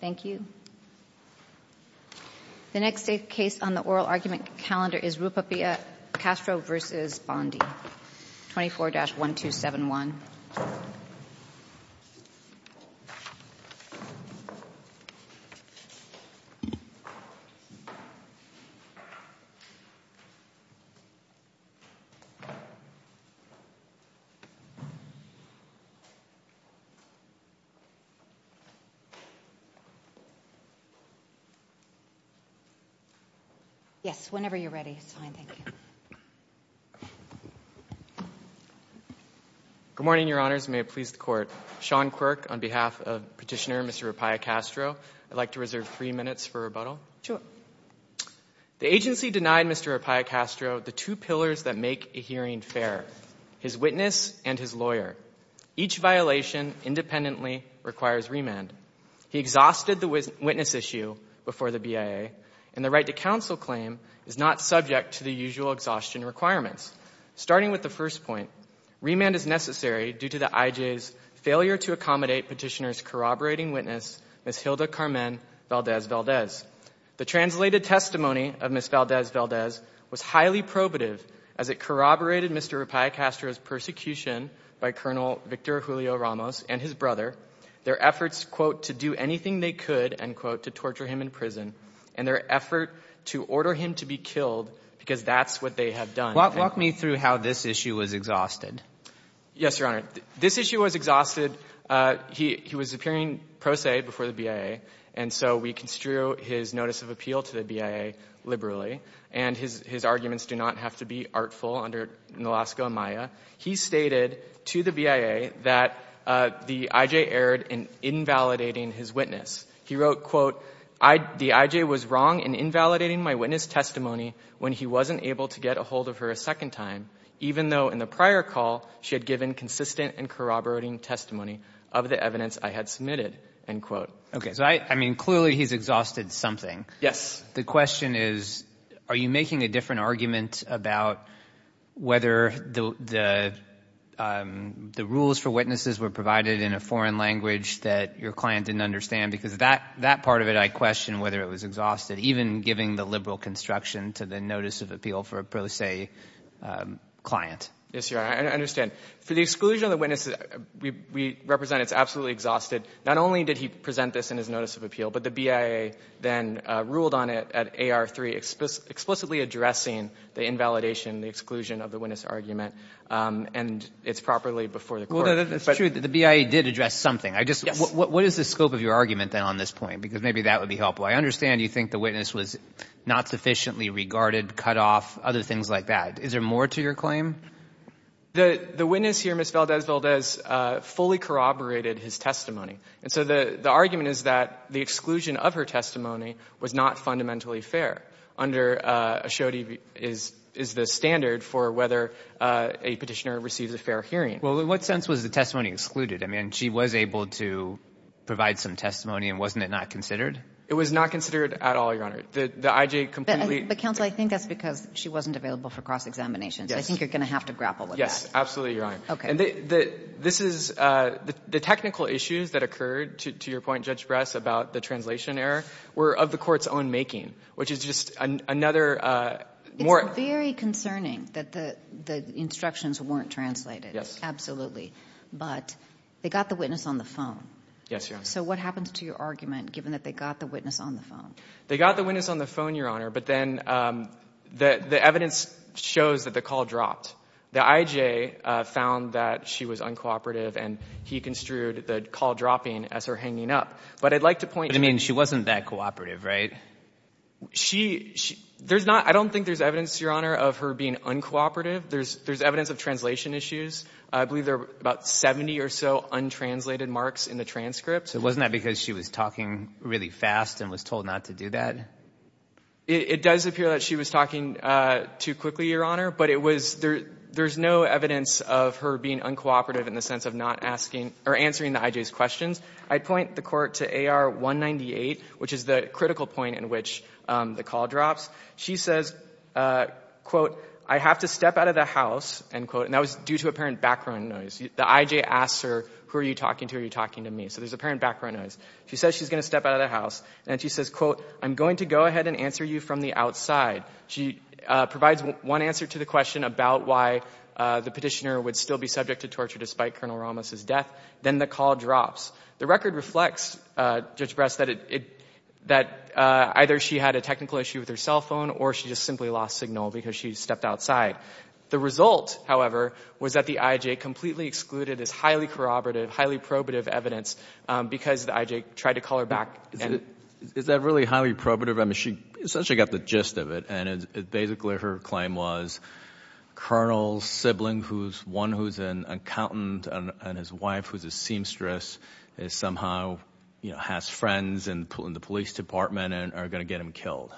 The next case on the oral argument calendar is Rupailla Castro v. Bondi, 24-1271. Sean Quirk Good morning, Your Honors, and may it please the Court. Sean Quirk, on behalf of Petitioner Mr. Rupailla Castro, I'd like to reserve three minutes for rebuttal. Rupailla Castro Sure. Sean Quirk The agency denied Mr. Rupailla Castro the two pillars that make a hearing fair, his witness and his lawyer. Each violation independently requires remand. He exhausted the witness issue before the BIA, and the right to counsel claim is not subject to the usual exhaustion requirements. Starting with the first point, remand is necessary due to the IJ's failure to accommodate Petitioner's corroborating witness, Ms. Hilda Carmen Valdez-Valdez. The translated testimony of Ms. Valdez-Valdez was highly probative as it corroborated Mr. Rupailla Castro's persecution by Colonel Victor Julio Ramos and his brother, their efforts, quote, to do anything they could, end quote, to torture him in prison, and their effort to order him to be killed, because that's what they have done. I think — Mr. Carney Walk me through how this issue was exhausted. Sean Quirk Yes, Your Honor. This issue was exhausted — he was appearing pro se before the BIA, and so we construe his notice of appeal to the BIA liberally. And his arguments do not have to be artful under Nalaska and Maya. He stated to the BIA that the IJ erred in invalidating his witness. He wrote, quote, the IJ was wrong in invalidating my witness testimony when he wasn't able to get a hold of her a second time, even though in the prior call she had given consistent and corroborating testimony of the evidence I had submitted, end quote. Mr. Carney Walk Okay. So I mean, clearly he's exhausted something. Sean Quirk Yes. Mr. Carney Walk The question is, are you making a different argument about whether the rules for witnesses were provided in a foreign language that your client didn't understand? Because that part of it I question whether it was exhausted, even giving the liberal construction to the notice of appeal for a pro se client. Sean Quirk Yes, Your Honor. I understand. For the exclusion of the witness, we represent it's absolutely exhausted. Not only did he present this in his notice of appeal, but the BIA then ruled on it at AR3, explicitly addressing the invalidation, the exclusion of the witness argument, and it's properly before the court. Mr. Carney Walk Well, that's true. The BIA did address something. What is the scope of your argument then on this point? Because maybe that would be helpful. I understand you think the witness was not sufficiently regarded, cut off, other things like that. Is there more to your claim? Sean Quirk The witness here, Ms. Valdez-Valdez, fully corroborated his testimony. And so the argument is that the exclusion of her testimony was not fundamentally fair. Under ASHODI is the standard for whether a petitioner receives a fair hearing. Mr. Carney Walk Well, in what sense was the testimony excluded? I mean, she was able to provide some testimony, and wasn't it not considered? Sean Quirk It was not considered at all, Your Honor. The IJ completely Ms. Valdez-Valdez But, Counsel, I think that's because she wasn't available for cross-examination. Ms. Valdez-Valdez I think you're going to have to grapple with that. Sean Quirk Yes, absolutely, Your Honor. Ms. Valdez-Valdez Okay. Sean Quirk And this is the technical issues that occurred, to your point, Judge Bress, about the translation error, were of the Court's own making, which is just another more Ms. Valdez-Valdez It's very concerning that the instructions weren't translated. Sean Quirk Yes. Ms. Valdez-Valdez Absolutely. But they got the witness on the phone. Sean Quirk Yes, Your Honor. Ms. Valdez-Valdez So what happens to your argument, given that they got the witness on the phone? Sean Quirk They got the witness on the phone, Your Honor, but then the evidence shows that the call dropped. The I.J. found that she was uncooperative and he construed the call dropping as her hanging up. But I'd like to point out Sean Quirk But, I mean, she wasn't that cooperative, right? Sean Quirk I don't think there's evidence, Your Honor, of her being uncooperative. There's evidence of translation issues. I believe there were about 70 or so untranslated marks in the transcript. Sean Quirk So wasn't that because she was talking really fast and was told not to do that? Sean Quirk It does appear that she was talking too quickly, Your Honor. But it was, there's no evidence of her being uncooperative in the sense of not asking or answering the I.J.'s questions. I'd point the court to AR 198, which is the critical point in which the call drops. She says, quote, I have to step out of the house, end quote, and that was due to apparent background noise. The I.J. asks her, who are you talking to? Are you talking to me? So there's apparent background noise. She says she's going to step out of the house and she says, quote, I'm going to go ahead and answer you from the outside. She provides one answer to the question about why the petitioner would still be subject to torture despite Colonel Ramos's death. Then the call drops. The record reflects, Judge Brest, that it, that either she had a technical issue with her cell phone or she just simply lost signal because she stepped outside. The result, however, was that the I.J. completely excluded this highly corroborative, highly probative evidence because the I.J. tried to call her back. Is that really highly probative? I mean, she essentially got the gist of it and it's basically her claim was Colonel's sibling who's one who's an accountant and his wife, who's a seamstress, is somehow, you know, has friends in the police department and are going to get him killed.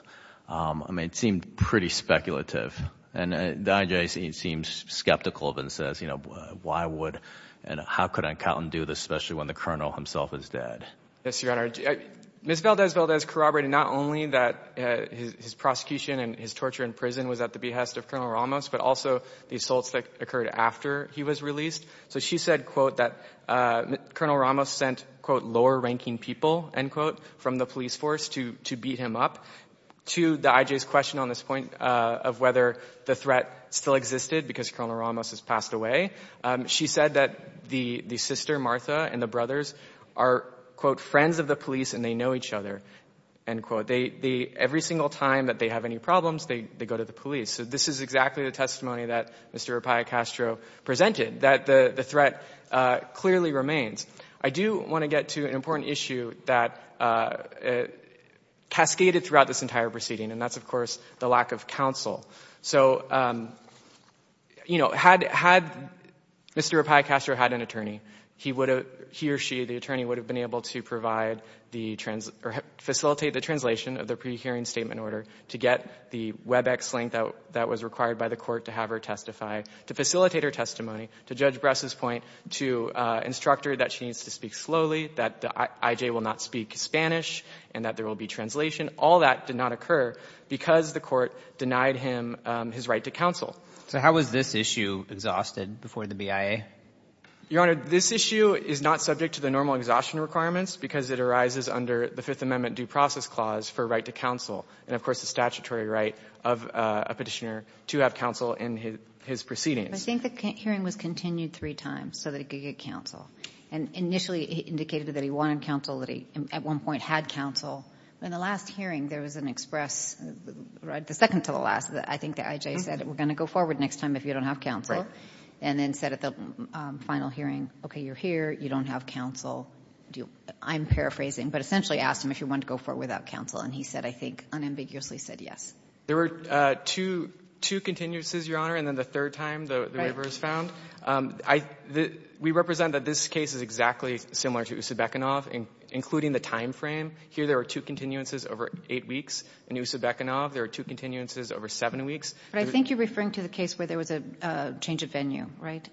I mean, it seemed pretty speculative and the I.J. seems skeptical of it and says, you know, why would, and how could an accountant do this, especially when the Colonel himself is dead? Yes, Your Honor. Ms. Valdez-Valdez corroborated not only that his prosecution and his torture in prison was at the behest of Colonel Ramos, but also the assaults that occurred after he was released. So she said, quote, that Colonel Ramos sent, quote, lower ranking people, end quote, from the police force to beat him up to the I.J.'s question on this point of whether the threat still existed because Colonel Ramos has passed away. She said that the sister, Martha, and the brothers are, quote, friends of the police and they know each other, end quote. Every single time that they have any problems, they go to the police. So this is exactly the testimony that Mr. Rapaio-Castro presented, that the threat clearly remains. I do want to get to an important issue that cascaded throughout this entire proceeding and that's, of course, the lack of counsel. So, you know, had Mr. Rapaio-Castro had an attorney, he would have, he or she, the attorney would have been able to provide the, facilitate the translation of the pre-hearing statement order to get the WebEx link that was required by the court to have her testify, to facilitate her testimony, to Judge Bress's point, to instruct her that she needs to speak slowly, that the I.J. will not speak Spanish, and that there will be translation. All that did not occur because the court denied him his right to counsel. So how was this issue exhausted before the BIA? Your Honor, this issue is not subject to the normal exhaustion requirements because it arises under the Fifth Amendment due process clause for right to counsel and, of course, the statutory right of a Petitioner to have counsel in his proceedings. I think the hearing was continued three times so that he could get counsel. And initially, it indicated that he wanted counsel, that he at one point had counsel. In the last hearing, there was an express, right, the second to the last, I think the I.J. said, we're going to go forward next time if you don't have counsel. And then said at the final hearing, okay, you're here, you don't have counsel. I'm paraphrasing, but essentially asked him if he wanted to go forward without counsel, and he said, I think, unambiguously said yes. There were two, two continuances, Your Honor, and then the third time, the waivers found. I, the, we represent that this case is exactly similar to Usobekhanov, including the timeframe. Here, there are two continuances over eight weeks. In Usobekhanov, there are two continuances over seven weeks. But I think you're referring to the case where there was a change of venue, right?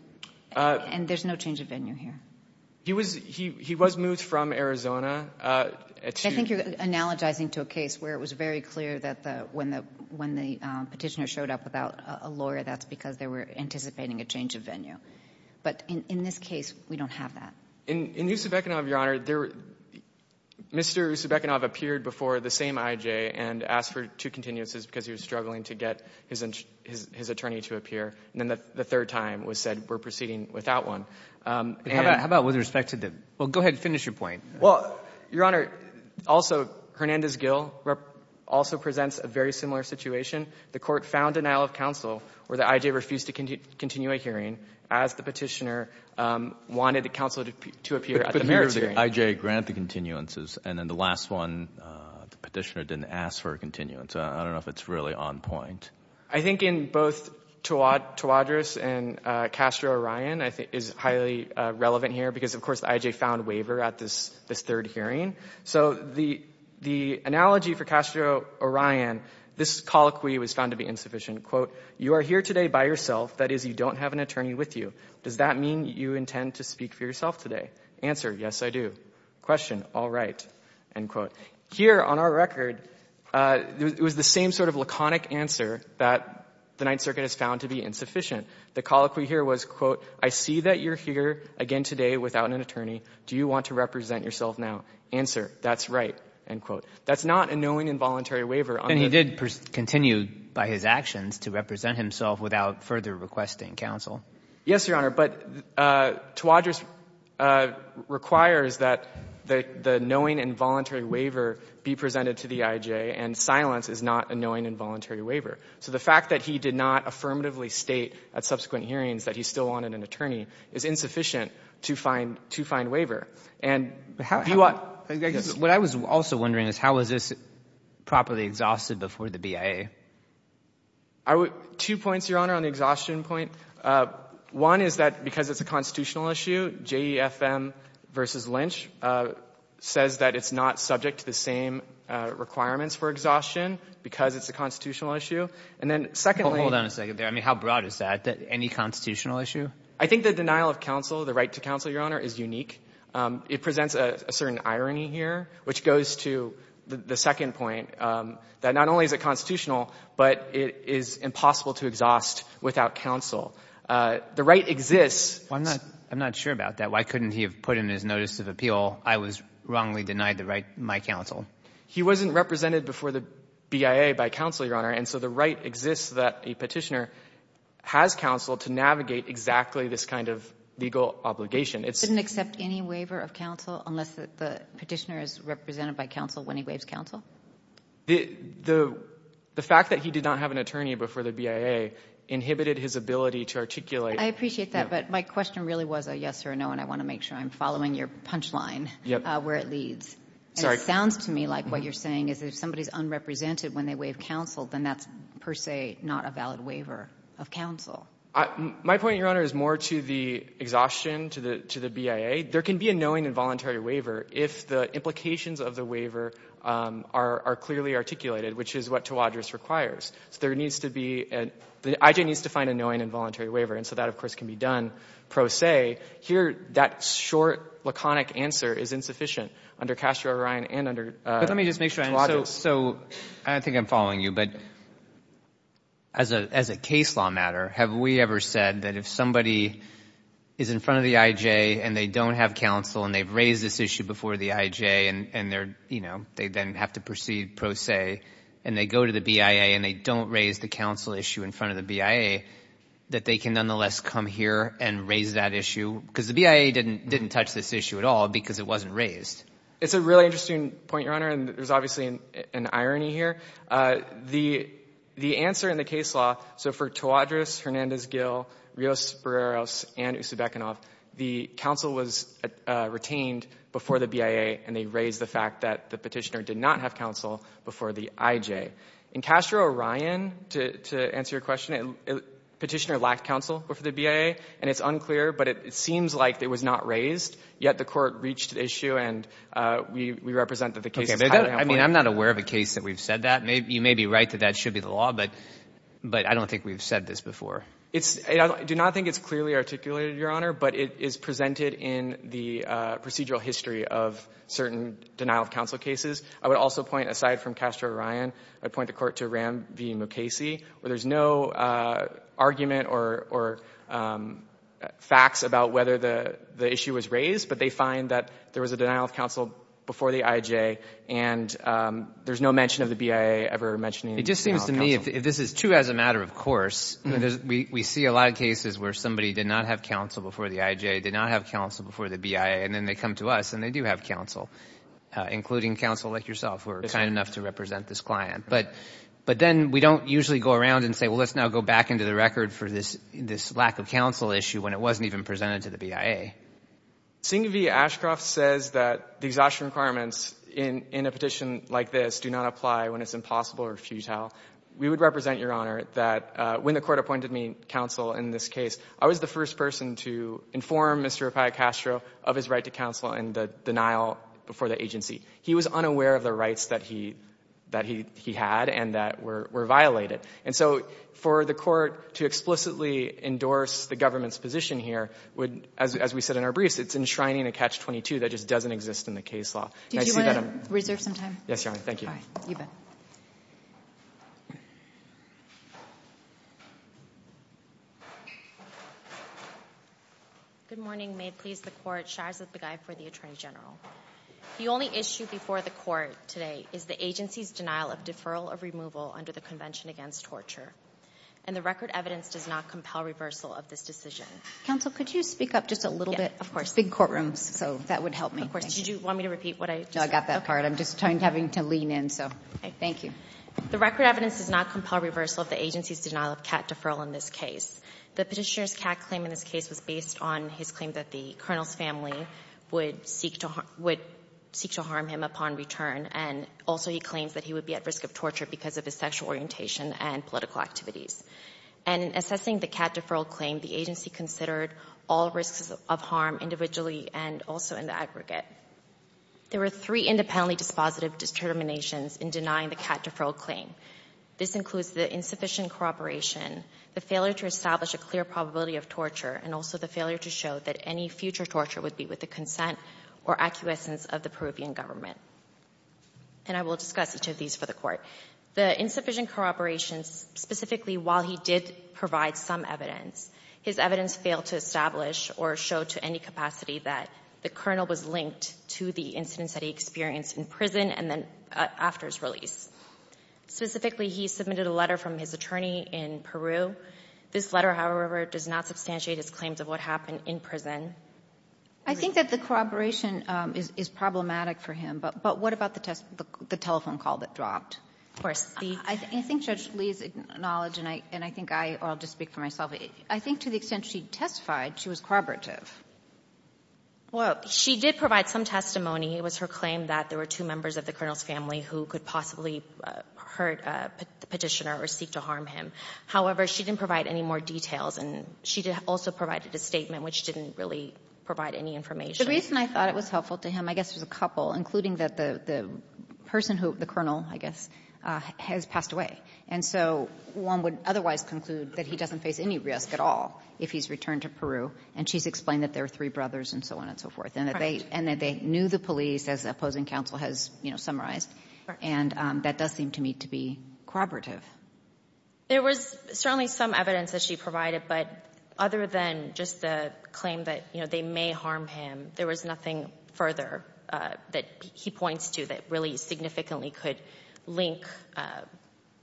And there's no change of venue here. He was, he, he was moved from Arizona to the next case. I think you're analogizing to a case where it was very clear that the, when the, when the Petitioner showed up without a lawyer, that's because they were anticipating a change of venue. But in, in this case, we don't have that. In, in Usobekhanov, Your Honor, there, Mr. Usobekhanov appeared before the same IJ and asked for two continuances because he was struggling to get his, his, his attorney to appear, and then the third time was said we're proceeding without one. How about, how about with respect to the, well, go ahead and finish your point. Well, Your Honor, also, Hernandez Gill also presents a very similar situation. The Court found denial of counsel where the IJ refused to continue a hearing as the wanted the counsel to appear at the merits hearing. IJ grant the continuances, and then the last one, the petitioner didn't ask for a continuance. I don't know if it's really on point. I think in both Tawadris and Castro-Orion, I think, is highly relevant here. Because, of course, IJ found waiver at this, this third hearing. So the, the analogy for Castro-Orion, this colloquy was found to be insufficient. Quote, you are here today by yourself, that is, you don't have an attorney with you. Does that mean you intend to speak for yourself today? Answer, yes, I do. Question, all right, end quote. Here, on our record, it was the same sort of laconic answer that the Ninth Circuit has found to be insufficient. The colloquy here was, quote, I see that you're here again today without an attorney. Do you want to represent yourself now? Answer, that's right, end quote. That's not a knowing involuntary waiver. And he did continue by his actions to represent himself without further requesting counsel. Yes, Your Honor. But Tawadris requires that the, the knowing involuntary waiver be presented to the IJ, and silence is not a knowing involuntary waiver. So the fact that he did not affirmatively state at subsequent hearings that he still wanted an attorney is insufficient to find, to find waiver. And how do you want to? What I was also wondering is how was this properly exhausted before the BIA? I would, two points, Your Honor, on the exhaustion point. One is that because it's a constitutional issue, JEFM v. Lynch says that it's not subject to the same requirements for exhaustion because it's a constitutional issue. And then secondly. Well, hold on a second there. I mean, how broad is that, that any constitutional issue? I think the denial of counsel, the right to counsel, Your Honor, is unique. It presents a certain irony here, which goes to the second point, that not only is it constitutional, but it is impossible to exhaust without counsel. The right exists. Well, I'm not, I'm not sure about that. Why couldn't he have put in his notice of appeal, I was wrongly denied the right, my counsel? He wasn't represented before the BIA by counsel, Your Honor, and so the right exists that a petitioner has counsel to navigate exactly this kind of legal obligation. It's. Didn't accept any waiver of counsel unless the petitioner is represented by counsel when he waives counsel? The, the, the fact that he did not have an attorney before the BIA inhibited his ability to articulate. I appreciate that, but my question really was a yes or a no, and I want to make sure I'm following your punchline. Yep. Where it leads. Sorry. And it sounds to me like what you're saying is if somebody's unrepresented when they waive counsel, then that's per se not a valid waiver of counsel. I, my point, Your Honor, is more to the exhaustion, to the, to the BIA. There can be a knowing involuntary waiver if the implications of the waiver are not are, are clearly articulated, which is what to Tawadrous requires. So there needs to be an, the IJ needs to find a knowing involuntary waiver, and so that, of course, can be done pro se. Here, that short, laconic answer is insufficient under Castro-Orion and under Tawadrous. But let me just make sure I understand. So, so I think I'm following you, but as a, as a case law matter, have we ever said that if somebody is in front of the IJ and they don't have counsel and they've raised this issue before the IJ and, and they're, you know, they then have to proceed pro se, and they go to the BIA and they don't raise the counsel issue in front of the BIA, that they can nonetheless come here and raise that issue? Because the BIA didn't, didn't touch this issue at all because it wasn't raised. It's a really interesting point, Your Honor, and there's obviously an, an irony here. The, the answer in the case law, so for Tawadrous, Hernandez-Gill, Rios-Barreros, and Usobekhanov, the counsel was retained before the BIA and they raised the fact that the petitioner did not have counsel before the IJ. In Castro-Orion, to, to answer your question, a petitioner lacked counsel before the BIA, and it's unclear, but it seems like it was not raised, yet the court reached the issue and we, we represent that the case is highly unpopular. Okay, but that, I mean, I'm not aware of a case that we've said that. You may be right that that should be the law, but, but I don't think we've said this before. It's, I do not think it's clearly articulated, Your Honor, but it is presented in the procedural history of certain denial of counsel cases. I would also point, aside from Castro-Orion, I'd point the court to Ram v. Mukasey, where there's no argument or, or facts about whether the, the issue was raised, but they find that there was a denial of counsel before the IJ and there's no mention of the BIA ever mentioning denial of counsel. I mean, if this is true as a matter of course, we, we see a lot of cases where somebody did not have counsel before the IJ, did not have counsel before the BIA, and then they come to us and they do have counsel, including counsel like yourself, who are kind enough to represent this client, but, but then we don't usually go around and say, well, let's now go back into the record for this, this lack of counsel issue when it wasn't even presented to the BIA. Singh v. Ashcroft says that the exhaustion requirements in, in a petition like this do not apply when it's impossible or futile. We would represent, Your Honor, that when the court appointed me counsel in this case, I was the first person to inform Mr. Appiah-Castro of his right to counsel and the denial before the agency. He was unaware of the rights that he, that he, he had and that were, were violated. And so for the court to explicitly endorse the government's position here would, as, as we said in our briefs, it's enshrining a catch-22 that just doesn't exist in the case law. And I see that I'm — Yes, Your Honor. Thank you. You bet. Good morning. May it please the Court. Shahrzad Begay for the Attorney General. The only issue before the Court today is the agency's denial of deferral of removal under the Convention Against Torture, and the record evidence does not compel reversal of this decision. Counsel, could you speak up just a little bit? Of course. Big courtrooms, so that would help me. Of course. Did you want me to repeat what I just said? I got that part. Okay. I'm just having to lean in, so. Okay. Thank you. The record evidence does not compel reversal of the agency's denial of cat deferral in this case. The Petitioner's cat claim in this case was based on his claim that the Colonel's family would seek to, would seek to harm him upon return, and also he claims that he would be at risk of torture because of his sexual orientation and political activities. And in assessing the cat deferral claim, the agency considered all risks of harm individually and also in the aggregate. There were three independently dispositive determinations in denying the cat deferral claim. This includes the insufficient corroboration, the failure to establish a clear probability of torture, and also the failure to show that any future torture would be with the consent or acquiescence of the Peruvian government. And I will discuss each of these for the Court. The insufficient corroborations, specifically while he did provide some evidence, his evidence failed to establish or show to any capacity that the Colonel was linked to the incidents that he experienced in prison and then after his release. Specifically, he submitted a letter from his attorney in Peru. This letter, however, does not substantiate his claims of what happened in prison. I think that the corroboration is problematic for him, but what about the telephone call that dropped? Of course. I think Judge Lee's knowledge, and I think I, or I'll just speak for myself, I think to the extent she testified, she was corroborative. Well, she did provide some testimony. It was her claim that there were two members of the Colonel's family who could possibly hurt the Petitioner or seek to harm him. However, she didn't provide any more details, and she did also provide a statement which didn't really provide any information. The reason I thought it was helpful to him, I guess, was a couple, including that the person who, the Colonel, I guess, has passed away. And so one would otherwise conclude that he doesn't face any risk at all if he's returned to Peru. And she's explained that there are three brothers and so on and so forth. And that they knew the police, as the opposing counsel has summarized. And that does seem to me to be corroborative. There was certainly some evidence that she provided, but other than just the claim that they may harm him, there was nothing further that he points to that really significantly could link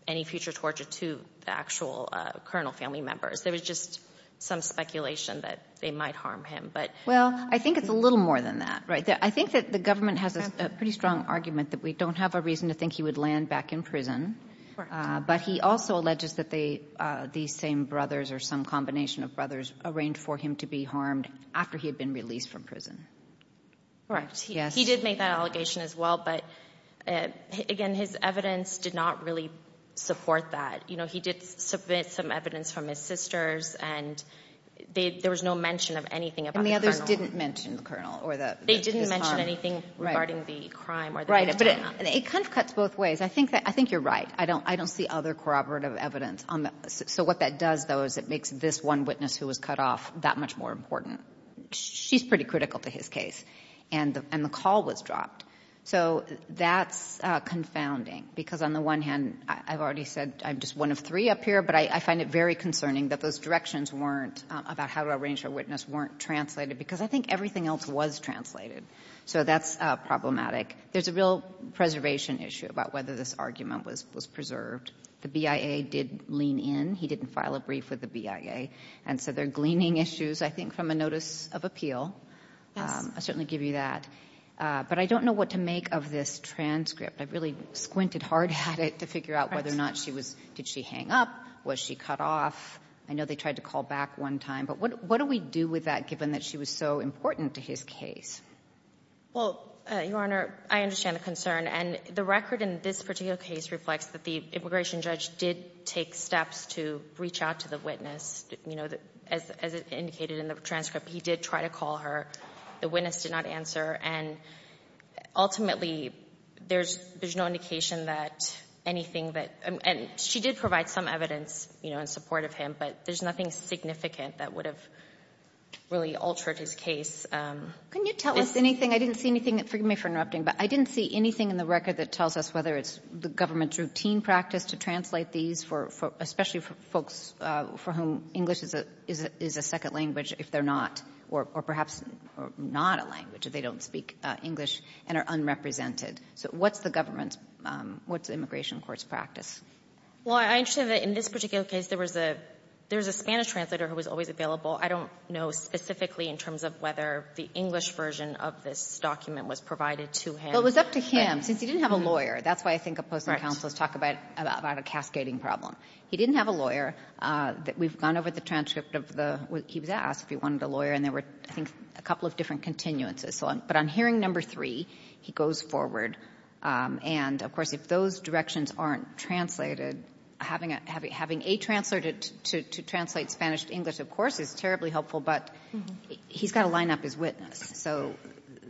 any future torture to the actual Colonel family members. There was just some speculation that they might harm him. Well, I think it's a little more than that. I think that the government has a pretty strong argument that we don't have a reason to think he would land back in prison. But he also alleges that these same brothers, or some combination of brothers, arranged for him to be harmed after he had been released from prison. Correct. He did make that allegation as well, but again, his evidence did not really support that. He did submit some evidence from his sisters, and there was no mention of anything about the Colonel. And the others didn't mention the Colonel, or his harm. They didn't mention anything regarding the crime or the abuse. Right. But it kind of cuts both ways. I think you're right. I don't see other corroborative evidence. So what that does, though, is it makes this one witness who was cut off that much more important. She's pretty critical to his case. And the call was dropped. So that's confounding, because on the one hand, I've already said I'm just one of three up here, but I find it very concerning that those directions weren't, about how to arrange her witness, weren't translated. Because I think everything else was translated. So that's problematic. There's a real preservation issue about whether this argument was preserved. The BIA did lean in. He didn't file a brief with the BIA. And so there are gleaning issues, I think, from a notice of appeal. Yes. I'll certainly give you that. But I don't know what to make of this transcript. I really squinted hard at it to figure out whether or not she was — did she hang up? Was she cut off? I know they tried to call back one time. But what do we do with that, given that she was so important to his case? Well, Your Honor, I understand the concern. And the record in this particular case reflects that the immigration judge did take steps to reach out to the witness. You know, as indicated in the transcript, he did try to call her. The witness did not answer. And ultimately, there's no indication that anything that — and she did provide some evidence, you know, in support of him. But there's nothing significant that would have really altered his case. Can you tell us anything? I didn't see anything. Forgive me for interrupting. But I didn't see anything in the record that tells us whether it's the government's routine practice to translate these for — especially for folks for whom English is a second language, if they're not, or perhaps not a language, if they don't speak English and are unrepresented. So what's the government's — what's the immigration court's practice? Well, I understand that in this particular case, there was a — there was a Spanish translator who was always available. I don't know specifically in terms of whether the English version of this document was provided to him. But it was up to him. Since he didn't have a lawyer — Right. That's why I think opposing counsels talk about — about a cascading problem. He didn't have a lawyer. We've gone over the transcript of the — he was asked if he wanted a lawyer, and there were, I think, a couple of different continuances. But on hearing number three, he goes forward. And, of course, if those directions aren't translated, having a — having a translator to translate Spanish to English, of course, is terribly helpful, but he's got to line up his witness. So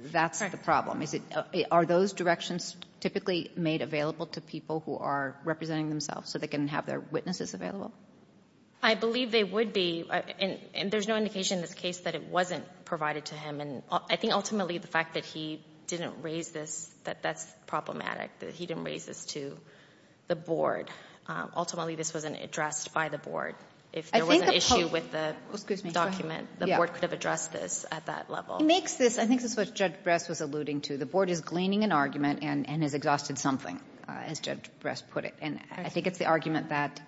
that's the problem. Is it — are those directions typically made available to people who are representing themselves so they can have their witnesses available? I believe they would be, and there's no indication in this case that it wasn't provided to him. And I think, ultimately, the fact that he didn't raise this, that that's problematic, that he didn't raise this to the board. Ultimately, this wasn't addressed by the board. If there was an issue with the document, the board could have addressed this at that level. He makes this — I think this is what Judge Bress was alluding to. The board is gleaning an argument and has exhausted something, as Judge Bress put it. And I think it's the argument that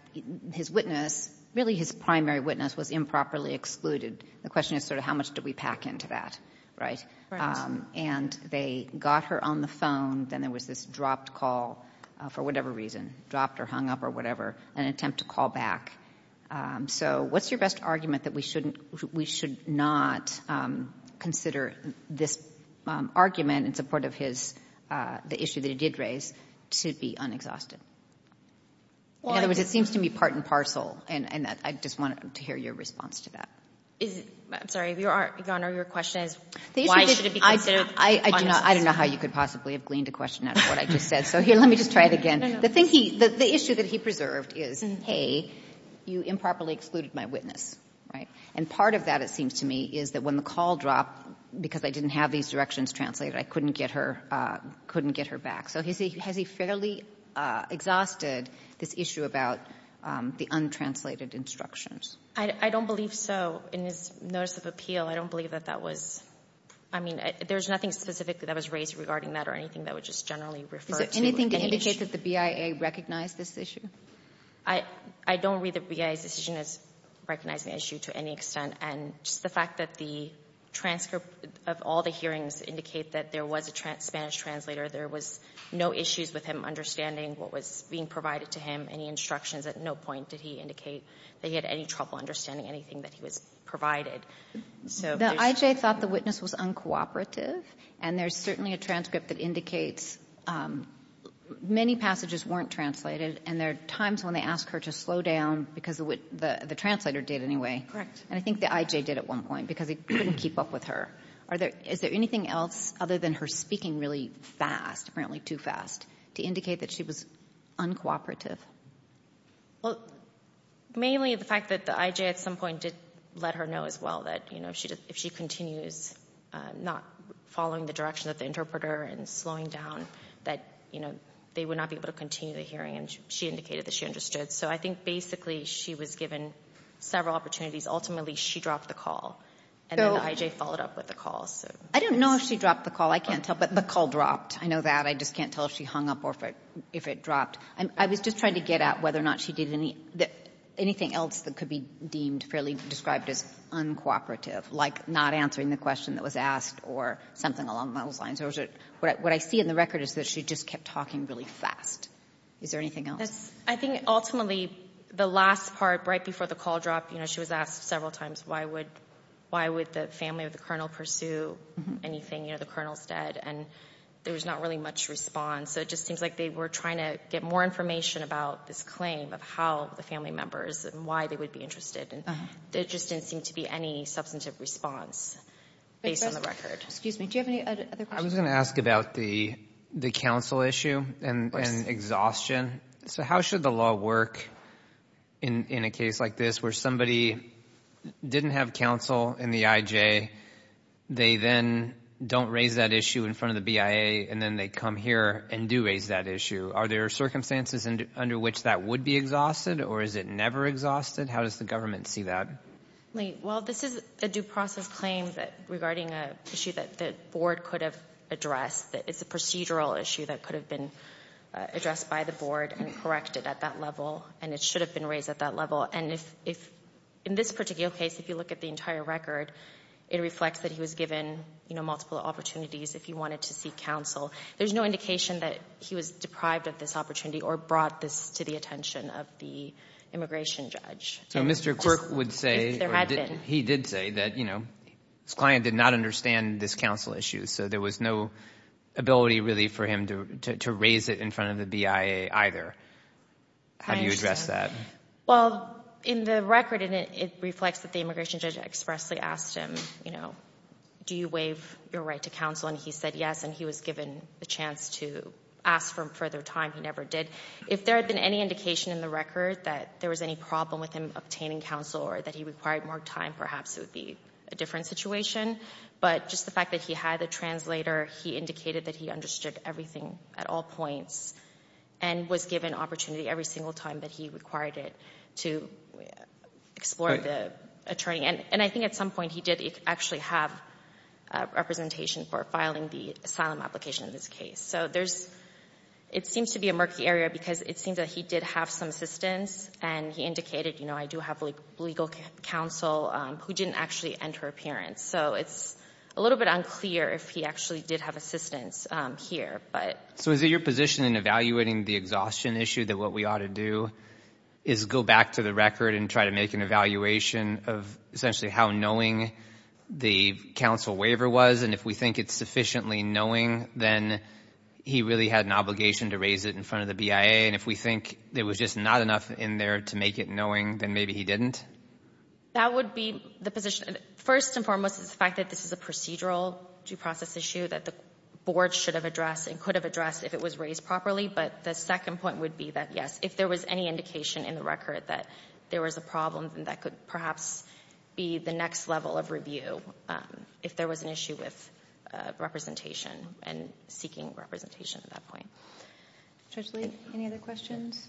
his witness, really his primary witness, was improperly excluded. The question is sort of how much do we pack into that, right? Right. And they got her on the phone, then there was this dropped call, for whatever reason, dropped or hung up or whatever, an attempt to call back. So what's your best argument that we shouldn't — we should not consider this argument in support of his — the issue that he did raise to be unexhausted? In other words, it seems to me part and parcel, and I just wanted to hear your response to that. I'm sorry, Your Honor, your question is why should it be considered unexhausted? I do not — I don't know how you could possibly have gleaned a question out of what I just said. So here, let me just try it again. No, no. The thing he — the issue that he preserved is, hey, you improperly excluded my witness, right? And part of that, it seems to me, is that when the call dropped, because I didn't have these directions translated, I couldn't get her — couldn't get her back. So has he fairly exhausted this issue about the untranslated instructions? I don't believe so. In his notice of appeal, I don't believe that that was — I mean, there's nothing specifically that was raised regarding that or anything that would just generally refer to any issue. Is there anything to indicate that the BIA recognized this issue? I don't read the BIA's decision as recognizing the issue to any extent. And just the fact that the transcript of all the hearings indicate that there was a Spanish translator, there was no issues with him understanding what was being provided to him, any instructions, at no point did he indicate that he had any trouble understanding anything that he was provided. So there's — The I.J. thought the witness was uncooperative, and there's certainly a transcript that indicates many passages weren't translated, and there are times when they ask her to slow down because of what the translator did anyway. Correct. And I think the I.J. did at one point because he couldn't keep up with her. Are there — is there anything else other than her speaking really fast, apparently too fast, to indicate that she was uncooperative? Well, mainly the fact that the I.J. at some point did let her know as well that, you know, they would not be able to continue the hearing, and she indicated that she understood. So I think basically she was given several opportunities. Ultimately, she dropped the call, and then the I.J. followed up with the call. I don't know if she dropped the call. I can't tell, but the call dropped. I know that. I just can't tell if she hung up or if it dropped. I was just trying to get at whether or not she did anything else that could be deemed fairly described as uncooperative, like not answering the question that was asked or something along those lines. What I see in the record is that she just kept talking really fast. Is there anything else? I think ultimately the last part, right before the call dropped, you know, she was asked several times why would the family of the colonel pursue anything, you know, the colonel is dead, and there was not really much response. So it just seems like they were trying to get more information about this claim of how the family members and why they would be interested, and there just didn't seem to be any substantive response based on the record. Excuse me. Do you have any other questions? I was going to ask about the counsel issue and exhaustion. So how should the law work in a case like this where somebody didn't have counsel in the IJ, they then don't raise that issue in front of the BIA, and then they come here and do raise that issue? Are there circumstances under which that would be exhausted, or is it never exhausted? How does the government see that? Well, this is a due process claim regarding an issue that the board could have addressed. It's a procedural issue that could have been addressed by the board and corrected at that level, and it should have been raised at that level. And if, in this particular case, if you look at the entire record, it reflects that he was given, you know, multiple opportunities if he wanted to seek counsel. There's no indication that he was deprived of this opportunity or brought this to the attention of the immigration judge. So Mr. Quirk would say, or he did say that, you know, his client did not understand this counsel issue, so there was no ability really for him to raise it in front of the BIA either. Have you addressed that? Well, in the record, it reflects that the immigration judge expressly asked him, you know, do you waive your right to counsel? And he said yes, and he was given the chance to ask for further time. He never did. If there had been any indication in the record that there was any problem with him obtaining counsel or that he required more time, perhaps it would be a different situation. But just the fact that he had a translator, he indicated that he understood everything at all points and was given opportunity every single time that he required it to explore the attorney. And I think at some point he did actually have representation for filing the asylum application in this case. So there's, it seems to be a murky area because it seems that he did have some assistance and he indicated, you know, I do have legal counsel who didn't actually enter appearance. So it's a little bit unclear if he actually did have assistance here. So is it your position in evaluating the exhaustion issue that what we ought to do is go back to the record and try to make an evaluation of essentially how knowing the counsel waiver was? And if we think it's sufficiently knowing, then he really had an obligation to raise it in front of the BIA. And if we think there was just not enough in there to make it knowing, then maybe he didn't? That would be the position. First and foremost is the fact that this is a procedural due process issue that the board should have addressed and could have addressed if it was raised properly. But the second point would be that, yes, if there was any indication in the record that there was a problem, then that could perhaps be the next level of review. If there was an issue with representation and seeking representation at that point. Sotomayor, any other questions?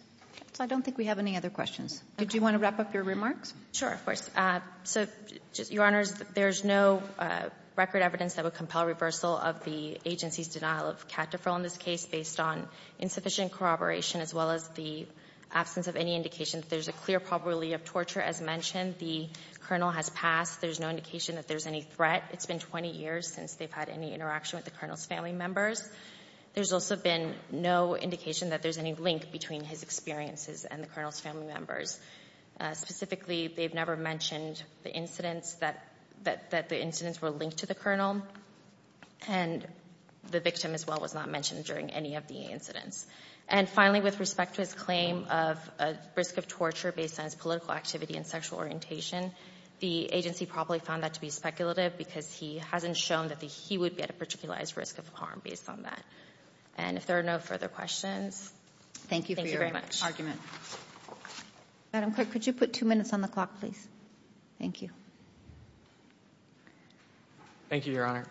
So I don't think we have any other questions. Do you want to wrap up your remarks? Sure, of course. So, Your Honors, there's no record evidence that would compel reversal of the agency's denial of cat deferral in this case based on insufficient corroboration as well as the absence of any indication that there's a clear probability of torture. As mentioned, the Colonel has passed. There's no indication that there's any threat. It's been 20 years since they've had any interaction with the Colonel's family members. There's also been no indication that there's any link between his experiences and the Colonel's family members. Specifically, they've never mentioned the incidents that the incidents were linked to the Colonel, and the victim as well was not mentioned during any of the incidents. And finally, with respect to his claim of a risk of torture based on his political activity and sexual orientation, the agency probably found that to be speculative because he hasn't shown that he would be at a particular risk of harm based on that. And if there are no further questions, thank you very much. Madam Clerk, could you put two minutes on the clock, please? Thank you. Thank you, Your Honor.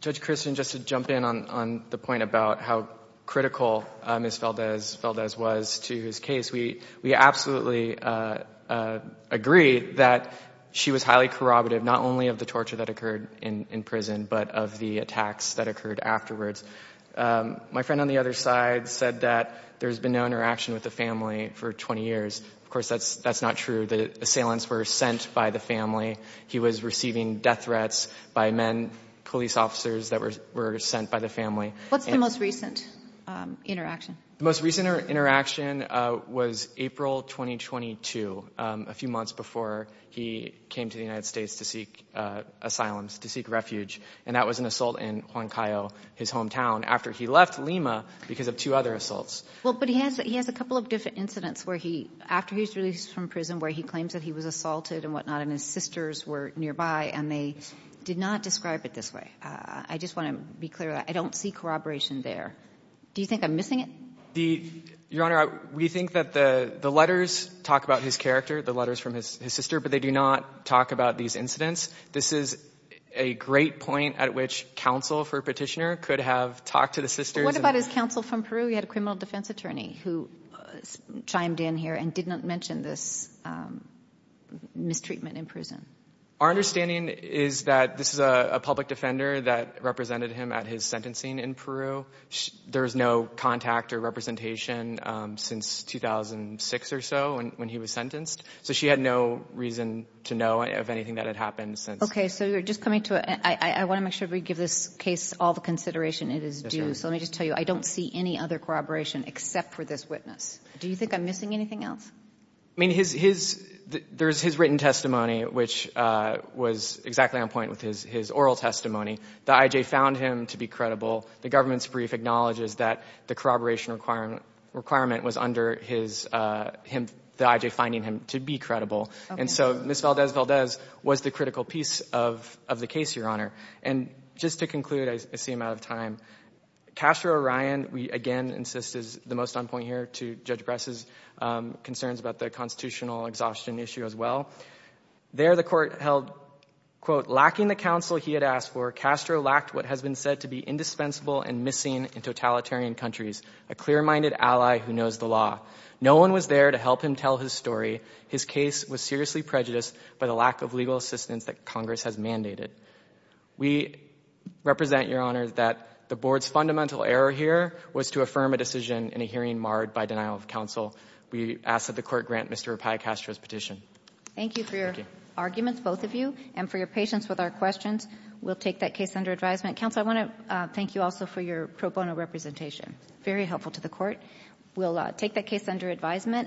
Judge Christian, just to jump in on the point about how critical Ms. Valdez was to his case, we absolutely agree that she was highly corroborative not only of the torture that occurred in prison, but of the attacks that occurred afterwards. My friend on the other side said that there's been no interaction with the family for 20 years. Of course, that's not true. The assailants were sent by the family. He was receiving death threats by men, police officers that were sent by the family. What's the most recent interaction? The most recent interaction was April 2022, a few months before he came to the United States to seek asylum, to seek refuge, and that was an assault in Juan Cayo, his hometown, after he left Lima because of two other assaults. Well, but he has a couple of different incidents where he, after he was released from prison, where he claims that he was assaulted and whatnot, and his sisters were nearby, and they did not describe it this way. I just want to be clear that I don't see corroboration there. Do you think I'm missing it? Your Honor, we think that the letters talk about his character, the letters from his sister, but they do not talk about these incidents. This is a great point at which counsel for Petitioner could have talked to the sisters. What about his counsel from Peru? He had a criminal defense attorney who chimed in here and did not mention this mistreatment in prison. Our understanding is that this is a public defender that represented him at his sentencing in Peru. There was no contact or representation since 2006 or so when he was sentenced, so she had no reason to know of anything that had happened since. Okay, so you're just coming to a—I want to make sure we give this case all the consideration it is due. So let me just tell you, I don't see any other corroboration except for this witness. Do you think I'm missing anything else? I mean, there's his written testimony, which was exactly on point with his oral testimony. The I.J. found him to be credible. The government's brief acknowledges that the corroboration requirement was under the I.J. finding him to be credible. And so Ms. Valdez-Valdez was the critical piece of the case, Your Honor. And just to conclude, I seem out of time. Castro-Orion, we again insist, is the most on point here to Judge Bress's concerns about the constitutional exhaustion issue as well. There the Court held, quote, lacking the counsel he had asked for, Castro lacked what has been said to be indispensable and missing in totalitarian countries, a clear-minded ally who knows the law. No one was there to help him tell his story. His case was seriously prejudiced by the lack of legal assistance that Congress has mandated. We represent, Your Honor, that the Board's fundamental error here was to affirm a decision in a hearing marred by denial of counsel. We ask that the Court grant Mr. Pai Castro's petition. Thank you for your arguments, both of you, and for your patience with our questions. We'll take that case under advisement. Counsel, I want to thank you also for your pro bono representation. Very helpful to the Court. We'll take that case under advisement.